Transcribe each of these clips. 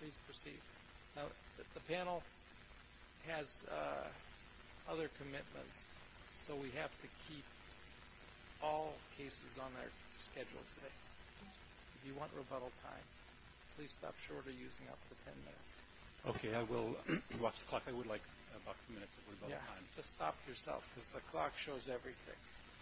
Please proceed. Now, the panel has other commitments, so we have to keep all cases on our schedule today. If you want rebuttal time, please stop short of using up the ten minutes. Okay, I will watch the clock. I would like a box of minutes of rebuttal time. Yeah, just stop yourself, because the clock shows everything.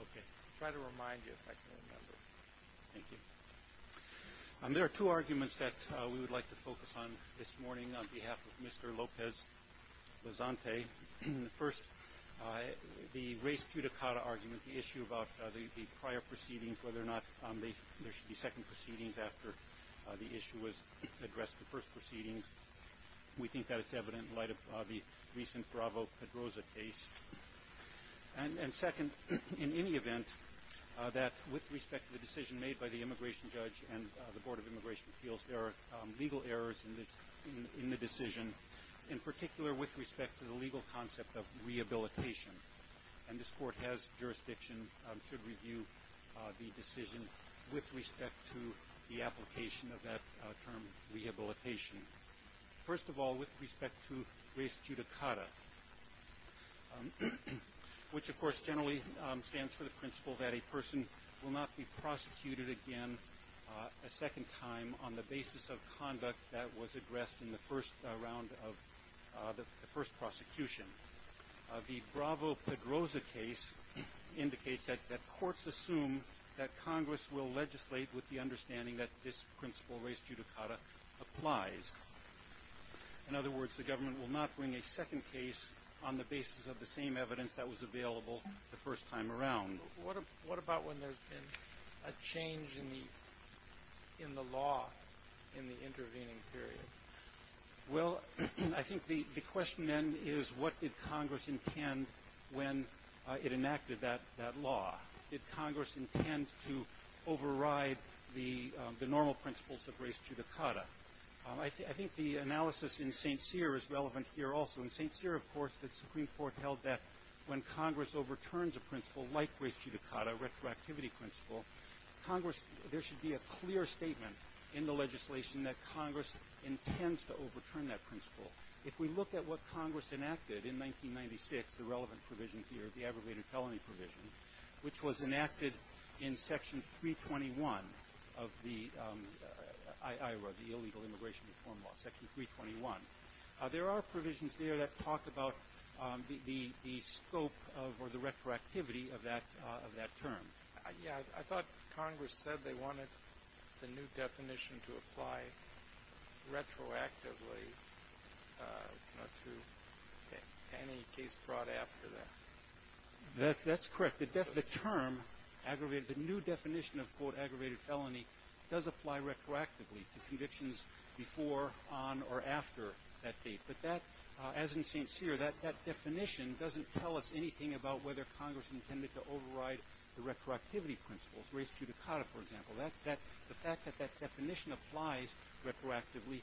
Okay. I'll try to remind you if I can remember. Thank you. There are two arguments that we would like to focus on this morning on behalf of Mr. Lopez-Bazante. First, the race judicata argument, the issue about the prior proceedings, whether or not there should be second proceedings after the issue was addressed, the first proceedings. We think that it's evident in light of the recent Bravo-Pedroza case. And second, in any event, that with respect to the decision made by the immigration judge and the Board of Immigration Appeals, there are legal errors in the decision, in particular with respect to the legal concept of rehabilitation. And this Court has jurisdiction to review the decision with respect to the application of that term rehabilitation. First of all, with respect to race judicata, which, of course, generally stands for the principle that a person will not be prosecuted again a second time on the basis of conduct that was addressed in the first round of the first prosecution. The Bravo-Pedroza case indicates that courts assume that Congress will legislate with the understanding that this principle, race judicata, applies. In other words, the government will not bring a second case on the basis of the same evidence that was available the first time around. What about when there's been a change in the law in the intervening period? Well, I think the question, then, is what did Congress intend when it enacted that law? Did Congress intend to override the normal principles of race judicata? I think the analysis in St. Cyr is relevant here also. In St. Cyr, of course, the Supreme Court held that when Congress overturns a principle like race judicata, retroactivity principle, Congress – there should be a clear statement in the legislation that Congress intends to overturn that principle. If we look at what Congress enacted in 1996, the relevant provision here, the abrogated felony provision, which was enacted in Section 321 of the IROA, the Illegal Immigration Reform Law, Section 321, there are provisions there that talk about the scope of or the retroactivity of that term. I thought Congress said they wanted the new definition to apply retroactively to any case brought after that. That's correct. The term aggravated – the new definition of, quote, aggravated felony does apply retroactively to convictions before, on, or after that date. But that – as in St. Cyr, that definition doesn't tell us anything about whether Congress intended to override the retroactivity principles, race judicata, for example. That – that – the fact that that definition applies retroactively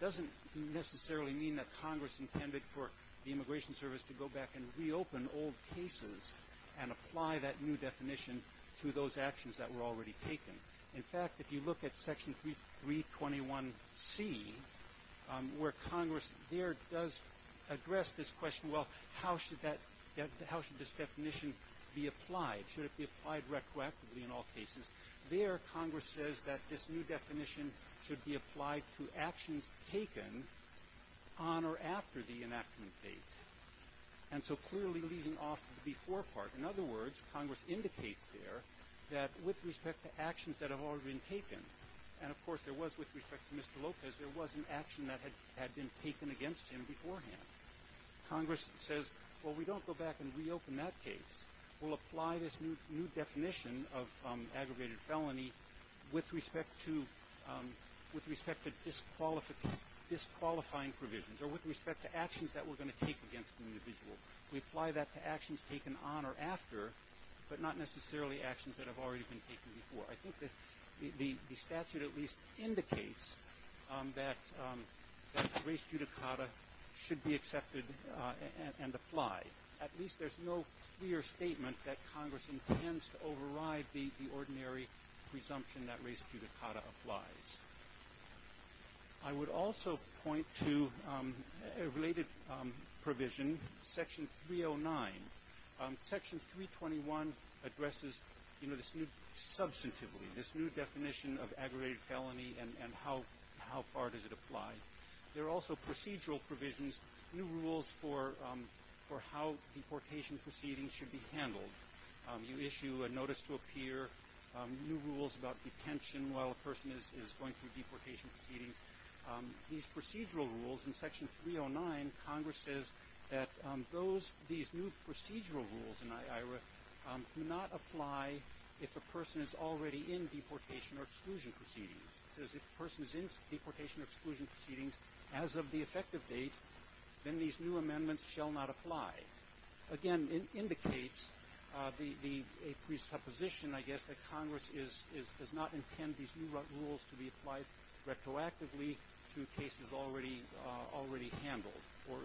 doesn't necessarily mean that Congress intended for the Immigration Service to go back and reopen old cases and apply that new definition to those actions that were already taken. In fact, if you look at Section 321C, where Congress there does address this question, well, how should that – how should this definition be applied? Should it be applied retroactively in all cases? There, Congress says that this new definition should be applied to actions taken on or after the enactment date. And so clearly, leaving off the before part, in other words, Congress indicates there that with respect to actions that have already been taken – and, of course, there was, with respect to Mr. Lopez, there was an action that had been taken against him beforehand. Congress says, well, we don't go back and reopen that case. We'll apply this new definition of aggravated felony with respect to – with respect to disqualifying provisions or with respect to actions that we're going to take against an individual. We apply that to actions taken on or after, but not necessarily actions that have already been taken before. I think that the statute at least indicates that – that res judicata should be accepted and applied. At least there's no clear statement that Congress intends to override the ordinary presumption that res judicata applies. I would also point to a related provision, Section 309. Section 321 addresses, you know, this new – substantively, this new provision and how far does it apply. There are also procedural provisions, new rules for how deportation proceedings should be handled. You issue a notice to a peer, new rules about detention while a person is going through deportation proceedings. These procedural rules – in Section 309, Congress says that those – these new procedural rules in I.I.R.A. do not apply if a person is already in deportation or exclusion proceedings. It says if a person is in deportation or exclusion proceedings as of the effective date, then these new amendments shall not apply. Again, it indicates the – a presupposition, I guess, that Congress is – does not intend these new rules to be applied retroactively to cases already – already handled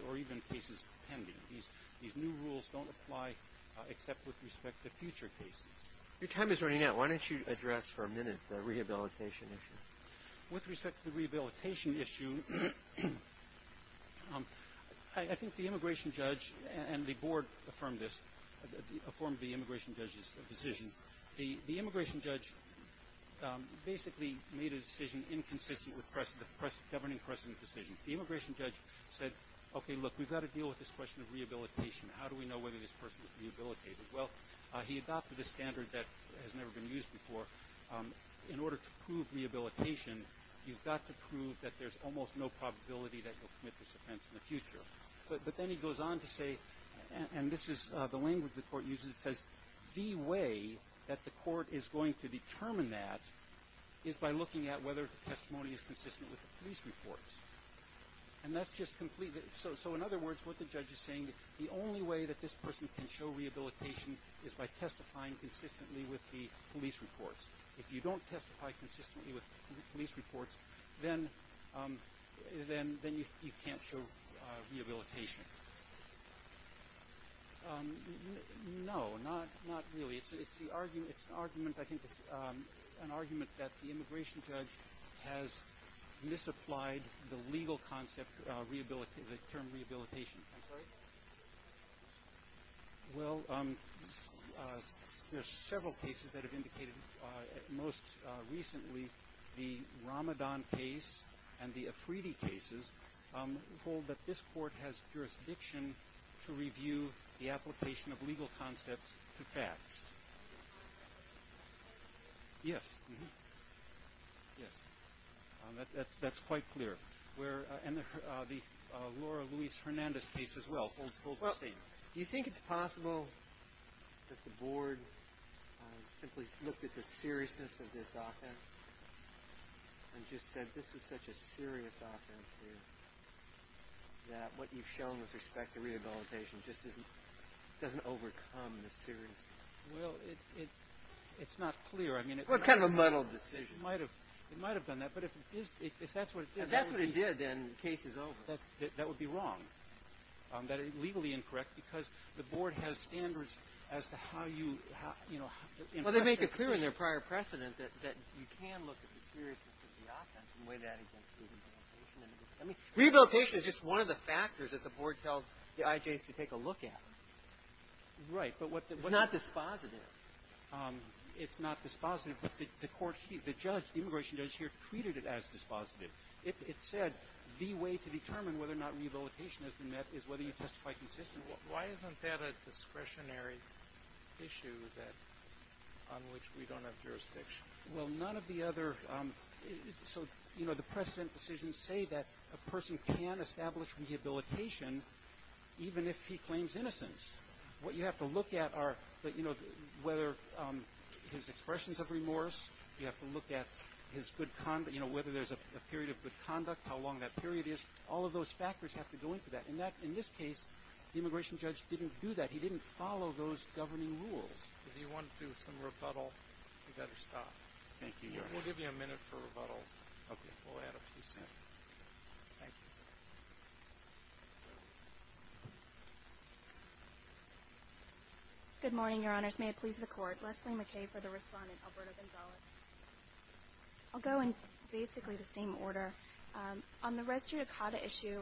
or even cases pending. These new rules don't apply except with respect to future cases. Your time is running out. Why don't you address for a minute the rehabilitation issue? With respect to the rehabilitation issue, I think the immigration judge and the Board affirmed this – affirmed the immigration judge's decision. The immigration judge basically made a decision inconsistent with precedent – governing precedent decisions. The immigration judge said, okay, look, we've got to deal with this question of rehabilitation. How do we know whether this person is rehabilitated? Well, he adopted a standard that has never been used before. In order to prove rehabilitation, you've got to prove that there's almost no probability that you'll commit this offense in the future. But then he goes on to say – and this is the language the Court uses. It says the way that the Court is going to determine that is by looking at whether the testimony is consistent with the police reports. And that's just completely – so in other words, what the judge is saying, the only way that this person can show rehabilitation is by testifying consistently with the police reports. If you don't testify consistently with police reports, then you can't show rehabilitation. No, not really. It's the argument – it's an argument – I think it's an argument that the immigration judge has misapplied the legal concept – the term rehabilitation. I'm sorry? Well, there's several cases that have indicated most recently the Ramadan case and the Afridi cases hold that this Court has jurisdiction to review the application of legal concepts to facts. Yes. Yes. That's quite clear. And the Laura Louise Hernandez case as well holds the same. Well, do you think it's possible that the Board simply looked at the seriousness of this offense and just said, this is such a serious offense here, that what you've shown with respect to rehabilitation just doesn't overcome the seriousness? Well, it's not clear. I mean – Well, it's kind of a muddled decision. It might have done that. But if that's what it did – If that's what it did, then the case is over. That would be wrong, legally incorrect, because the Board has standards as to how you – Well, they make it clear in their prior precedent that you can look at the seriousness of the offense and weigh that against rehabilitation. I mean, rehabilitation is just one of the factors that the Board tells the IJs to take a look at. Right. But what – It's not dispositive. It's not dispositive. But the Court – the judge, the immigration judge here, treated it as dispositive. It said the way to determine whether or not rehabilitation has been met is whether you testify consistently. So why isn't that a discretionary issue that – on which we don't have jurisdiction? Well, none of the other – so, you know, the precedent decisions say that a person can establish rehabilitation even if he claims innocence. What you have to look at are, you know, whether his expressions of remorse, you have to look at his good – you know, whether there's a period of good conduct, how long that period is. All of those factors have to go into that. And that – in this case, the immigration judge didn't do that. He didn't follow those governing rules. If you want to do some rebuttal, we'd better stop. Thank you, Your Honor. We'll give you a minute for rebuttal. Okay. We'll add a few seconds. Thank you. Good morning, Your Honors. May it please the Court. Leslie McKay for the Respondent, Alberto Gonzales. I'll go in basically the same order. On the res judicata issue,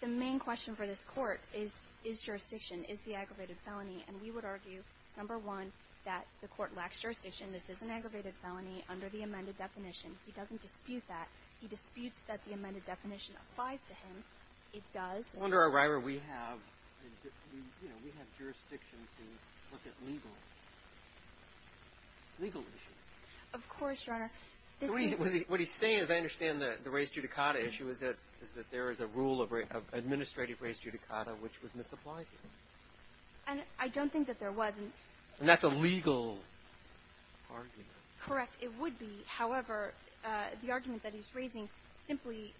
the main question for this Court is, is jurisdiction, is the aggravated felony. And we would argue, number one, that the Court lacks jurisdiction. This is an aggravated felony under the amended definition. He doesn't dispute that. He disputes that the amended definition applies to him. It does. Under O'Reiler, we have – you know, we have jurisdiction to look at legal – legal issues. Of course, Your Honor. What he's saying, as I understand the res judicata issue, is that there is a rule of administrative res judicata, which was misapplied. And I don't think that there was. And that's a legal argument. Correct. It would be. However, the argument that he's raising simply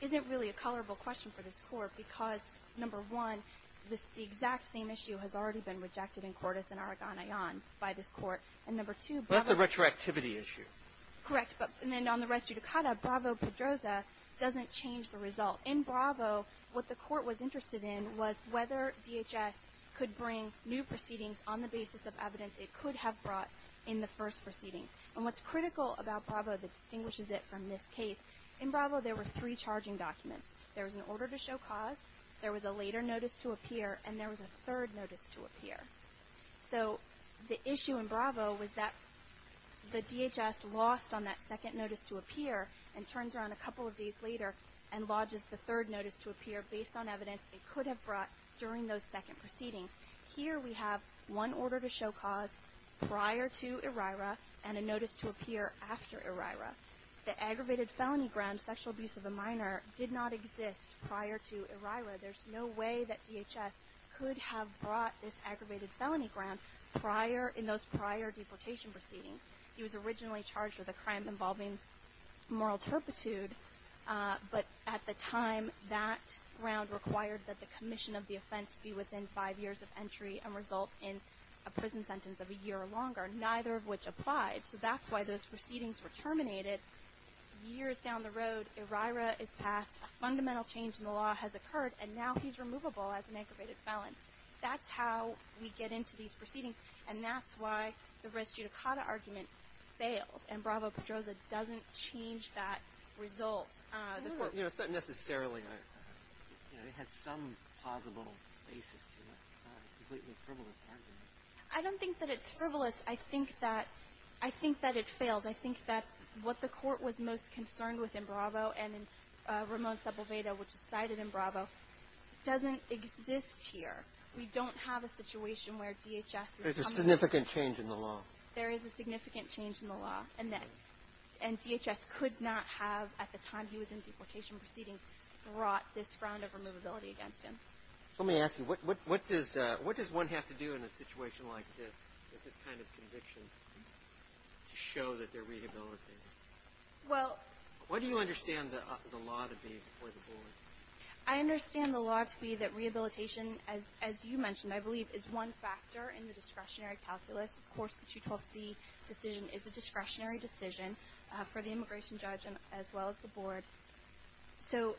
isn't really a colorable question for this Court because, number one, the exact same issue has already been rejected in Cordes and Aragon-Aon by this Court. And, number two, Bravo – Well, that's a retroactivity issue. Correct. But then on the res judicata, Bravo-Pedroza doesn't change the result. In Bravo, what the Court was interested in was whether DHS could bring new proceedings on the basis of evidence it could have brought in the first proceedings. And what's critical about Bravo that distinguishes it from this case, in Bravo, there were three charging documents. There was an order to show cause, there was a later notice to appear, and there was a third notice to appear. So the issue in Bravo was that the DHS lost on that second notice to appear and turns around a couple of days later and lodges the third notice to appear based on evidence it could have brought during those second proceedings. Here we have one order to show cause prior to ERIRA and a notice to appear after ERIRA. The aggravated felony grounds, sexual abuse of a minor, did not exist prior to ERIRA. There's no way that DHS could have brought this aggravated felony ground prior, in those prior deportation proceedings. He was originally charged with a crime involving moral turpitude, but at the time, that ground required that the commission of the offense be within five years of entry and result in a prison sentence of a year or longer, neither of which applied. So that's why those proceedings were terminated. Years down the road, ERIRA is passed. A fundamental change in the law has occurred, and now he's removable as an aggravated felon. That's how we get into these proceedings, and that's why the res judicata argument fails, and Bravo-Pedroza doesn't change that result. But, you know, it's not necessarily a, you know, it has some plausible basis to it. It's not a completely frivolous argument. I don't think that it's frivolous. I think that it fails. I think that what the Court was most concerned with in Bravo and in Ramon Sebelveda, which is cited in Bravo, doesn't exist here. We don't have a situation where DHS is coming in. There's a significant change in the law. There is a significant change in the law, and DHS could not have, at the time he was in deportation proceedings, brought this ground of removability against him. So let me ask you, what does one have to do in a situation like this, with this kind of conviction, to show that they're rehabilitated? Well. What do you understand the law to be for the board? I understand the law to be that rehabilitation, as you mentioned, I believe, is one factor in the discretionary calculus. Of course, the 212C decision is a discretionary decision for the immigration judge as well as the board. So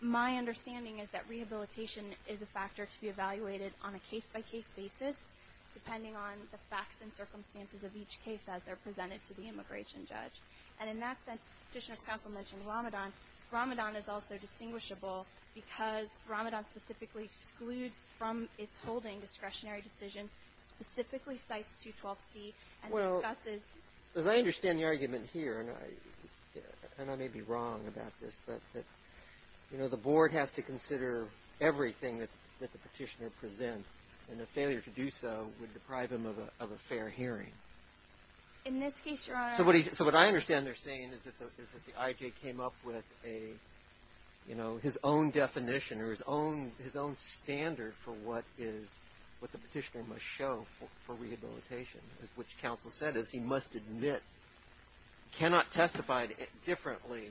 my understanding is that rehabilitation is a factor to be evaluated on a case-by-case basis, depending on the facts and circumstances of each case as they're presented to the immigration judge. And in that sense, Petitioner's counsel mentioned Ramadan. Ramadan is also distinguishable because Ramadan specifically excludes from its holding discretionary decisions, specifically cites 212C and discusses. Well, as I understand the argument here, and I may be wrong about this, but, you know, the board has to consider everything that the Petitioner presents, and a failure to do so would deprive him of a fair hearing. In this case, Your Honor. So what I understand they're saying is that the IJ came up with a, you know, his own definition or his own standard for what the Petitioner must show for rehabilitation, which counsel said is he must admit, cannot testify differently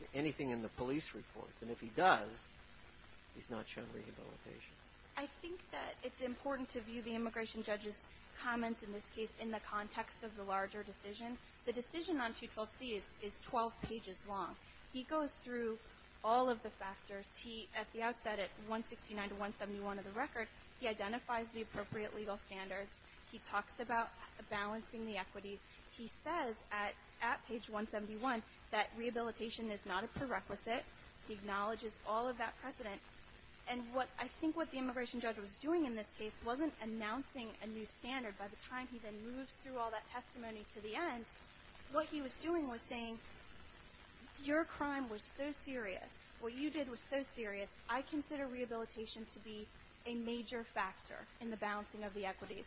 to anything in the police reports. And if he does, he's not shown rehabilitation. I think that it's important to view the immigration judge's comments in this case in the context of the larger decision. The decision on 212C is 12 pages long. He goes through all of the factors. At the outset, at 169 to 171 of the record, he identifies the appropriate legal standards. He talks about balancing the equities. He says at page 171 that rehabilitation is not a prerequisite. He acknowledges all of that precedent. And I think what the immigration judge was doing in this case wasn't announcing a new standard. By the time he then moves through all that testimony to the end, what he was doing was saying your crime was so serious. What you did was so serious. I consider rehabilitation to be a major factor in the balancing of the equities.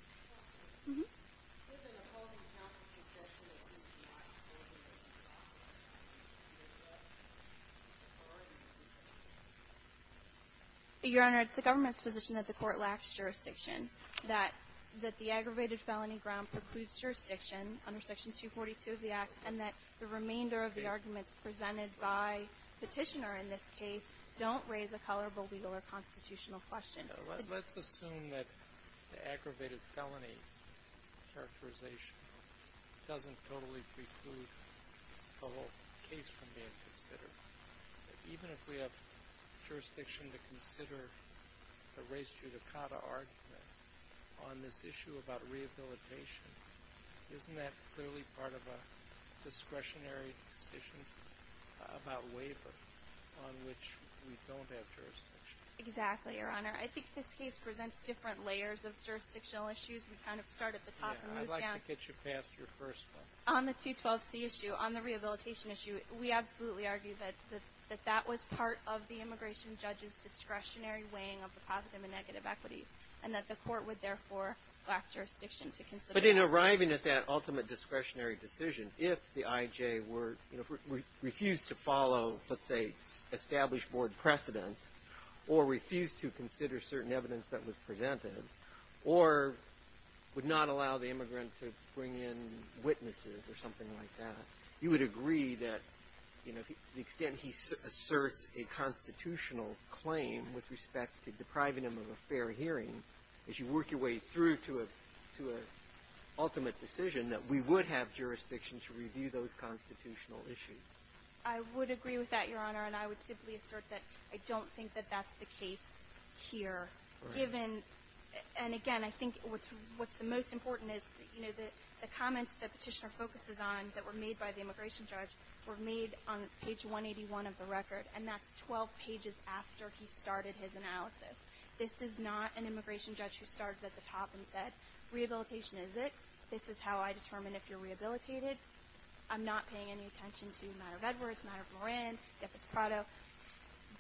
Your Honor, it's the government's position that the court lacks jurisdiction, that the aggravated felony ground precludes jurisdiction under Section 242 of the Act and that the remainder of the arguments presented by Petitioner in this case don't raise a colorable legal or constitutional question. Let's assume that the aggravated felony characterization doesn't totally preclude the whole case from being considered. Even if we have jurisdiction to consider the res judicata argument on this issue about rehabilitation, isn't that clearly part of a discretionary decision about waiver on which we don't have jurisdiction? Exactly, Your Honor. I think this case presents different layers of jurisdictional issues. We kind of start at the top and move down. I'd like to get you past your first one. On the 212C issue, on the rehabilitation issue, we absolutely argue that that was part of the immigration judge's discretionary weighing of the positive and negative equities and that the court would therefore lack jurisdiction to consider. But in arriving at that ultimate discretionary decision, if the I.J. refused to follow, let's say, established board precedent or refused to consider certain evidence that was presented or would not allow the immigrant to bring in witnesses or something like that, you would agree that, you know, to the extent he asserts a constitutional claim with respect to depriving him of a fair hearing, as you work your way through to an ultimate decision, that we would have jurisdiction to review those constitutional issues. I would agree with that, Your Honor. And I would simply assert that I don't think that that's the case here. Given — and again, I think what's the most important is, you know, the comments that Petitioner focuses on that were made by the immigration judge were made on page 181 of the record, and that's 12 pages after he started his analysis. This is not an immigration judge who started at the top and said, Rehabilitation is it. This is how I determine if you're rehabilitated. I'm not paying any attention to the matter of Edwards, the matter of Moran, Jeffers Prado.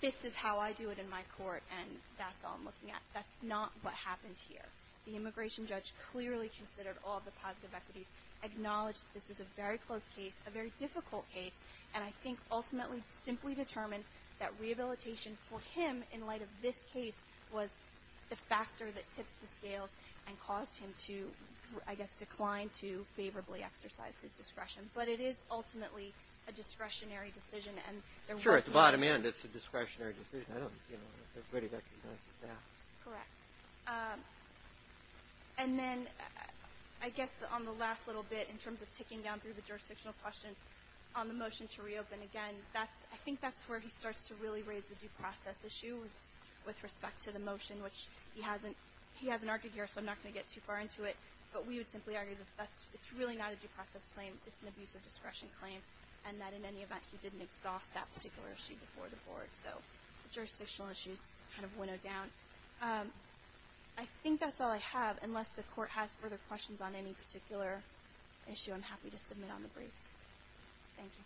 This is how I do it in my court, and that's all I'm looking at. That's not what happened here. The immigration judge clearly considered all the positive equities, acknowledged that this was a very close case, a very difficult case, and I think ultimately simply determined that rehabilitation for him, in light of this case, was the factor that tipped the scales and caused him to, I guess, decline to favorably exercise his discretion. But it is ultimately a discretionary decision. Sure, at the bottom end it's a discretionary decision. I don't know if anybody recognizes that. Correct. And then I guess on the last little bit, in terms of ticking down through the jurisdictional questions on the motion to reopen again, I think that's where he starts to really raise the due process issue with respect to the motion, which he hasn't argued here, so I'm not going to get too far into it. But we would simply argue that it's really not a due process claim. It's an abuse of discretion claim, and that in any event he didn't exhaust that particular issue before the board. So jurisdictional issues kind of winnowed down. I think that's all I have. Unless the Court has further questions on any particular issue, I'm happy to submit on the briefs. Thank you.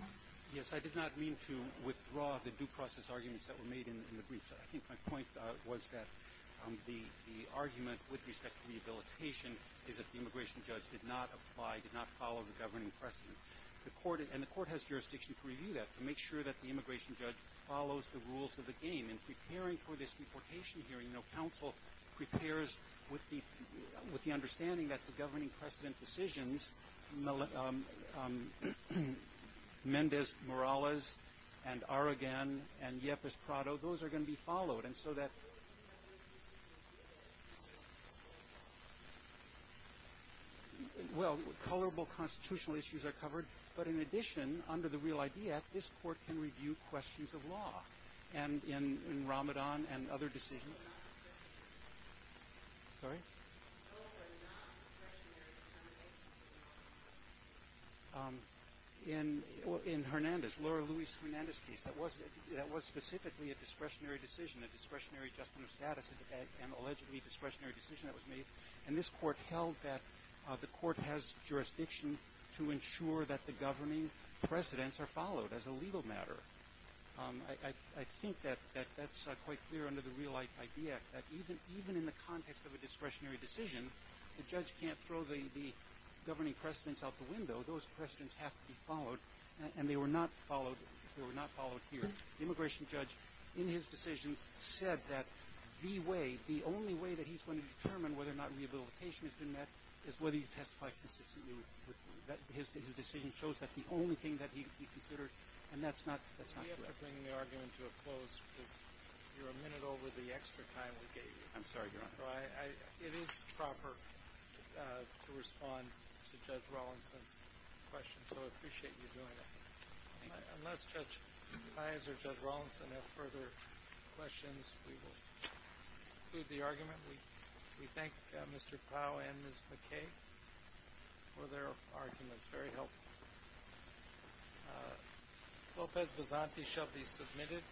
Okay. Yes, I did not mean to withdraw the due process arguments that were made in the briefs. I think my point was that the argument with respect to rehabilitation is that the immigration judge did not apply, did not follow the governing precedent. And the Court has jurisdiction to review that, to make sure that the immigration judge follows the rules of the game. And preparing for this deportation hearing, you know, counsel prepares with the understanding that the governing precedent decisions, Mendez-Morales and Aragon and Yepes-Prado, those are going to be followed. And so that – well, colorable constitutional issues are covered. But in addition, under the Real ID Act, this Court can review questions of law. And in Ramadan and other decisions. Sorry? In Hernandez, Laura Louise Hernandez case, that was specifically a discretionary decision, a discretionary adjustment of status, an allegedly discretionary decision that was made. And this Court held that the Court has jurisdiction to ensure that the governing precedents are followed as a legal matter. I think that that's quite clear under the Real ID Act, that even in the context of a discretionary decision, the judge can't throw the governing precedents out the window. Those precedents have to be followed. And they were not followed here. The immigration judge, in his decisions, said that the way, the only way that he's going to determine whether or not rehabilitation has been met is whether you testify consistently. His decision shows that's the only thing that he considered. And that's not correct. We have to bring the argument to a close because you're a minute over the extra time we gave you. I'm sorry, Your Honor. So it is proper to respond to Judge Rawlinson's question. So I appreciate you doing it. Unless Judge Pais or Judge Rawlinson have further questions, we will conclude the argument. We thank Mr. Pau and Ms. McKay for their arguments. Very helpful. Lopez-Basanti shall be submitted.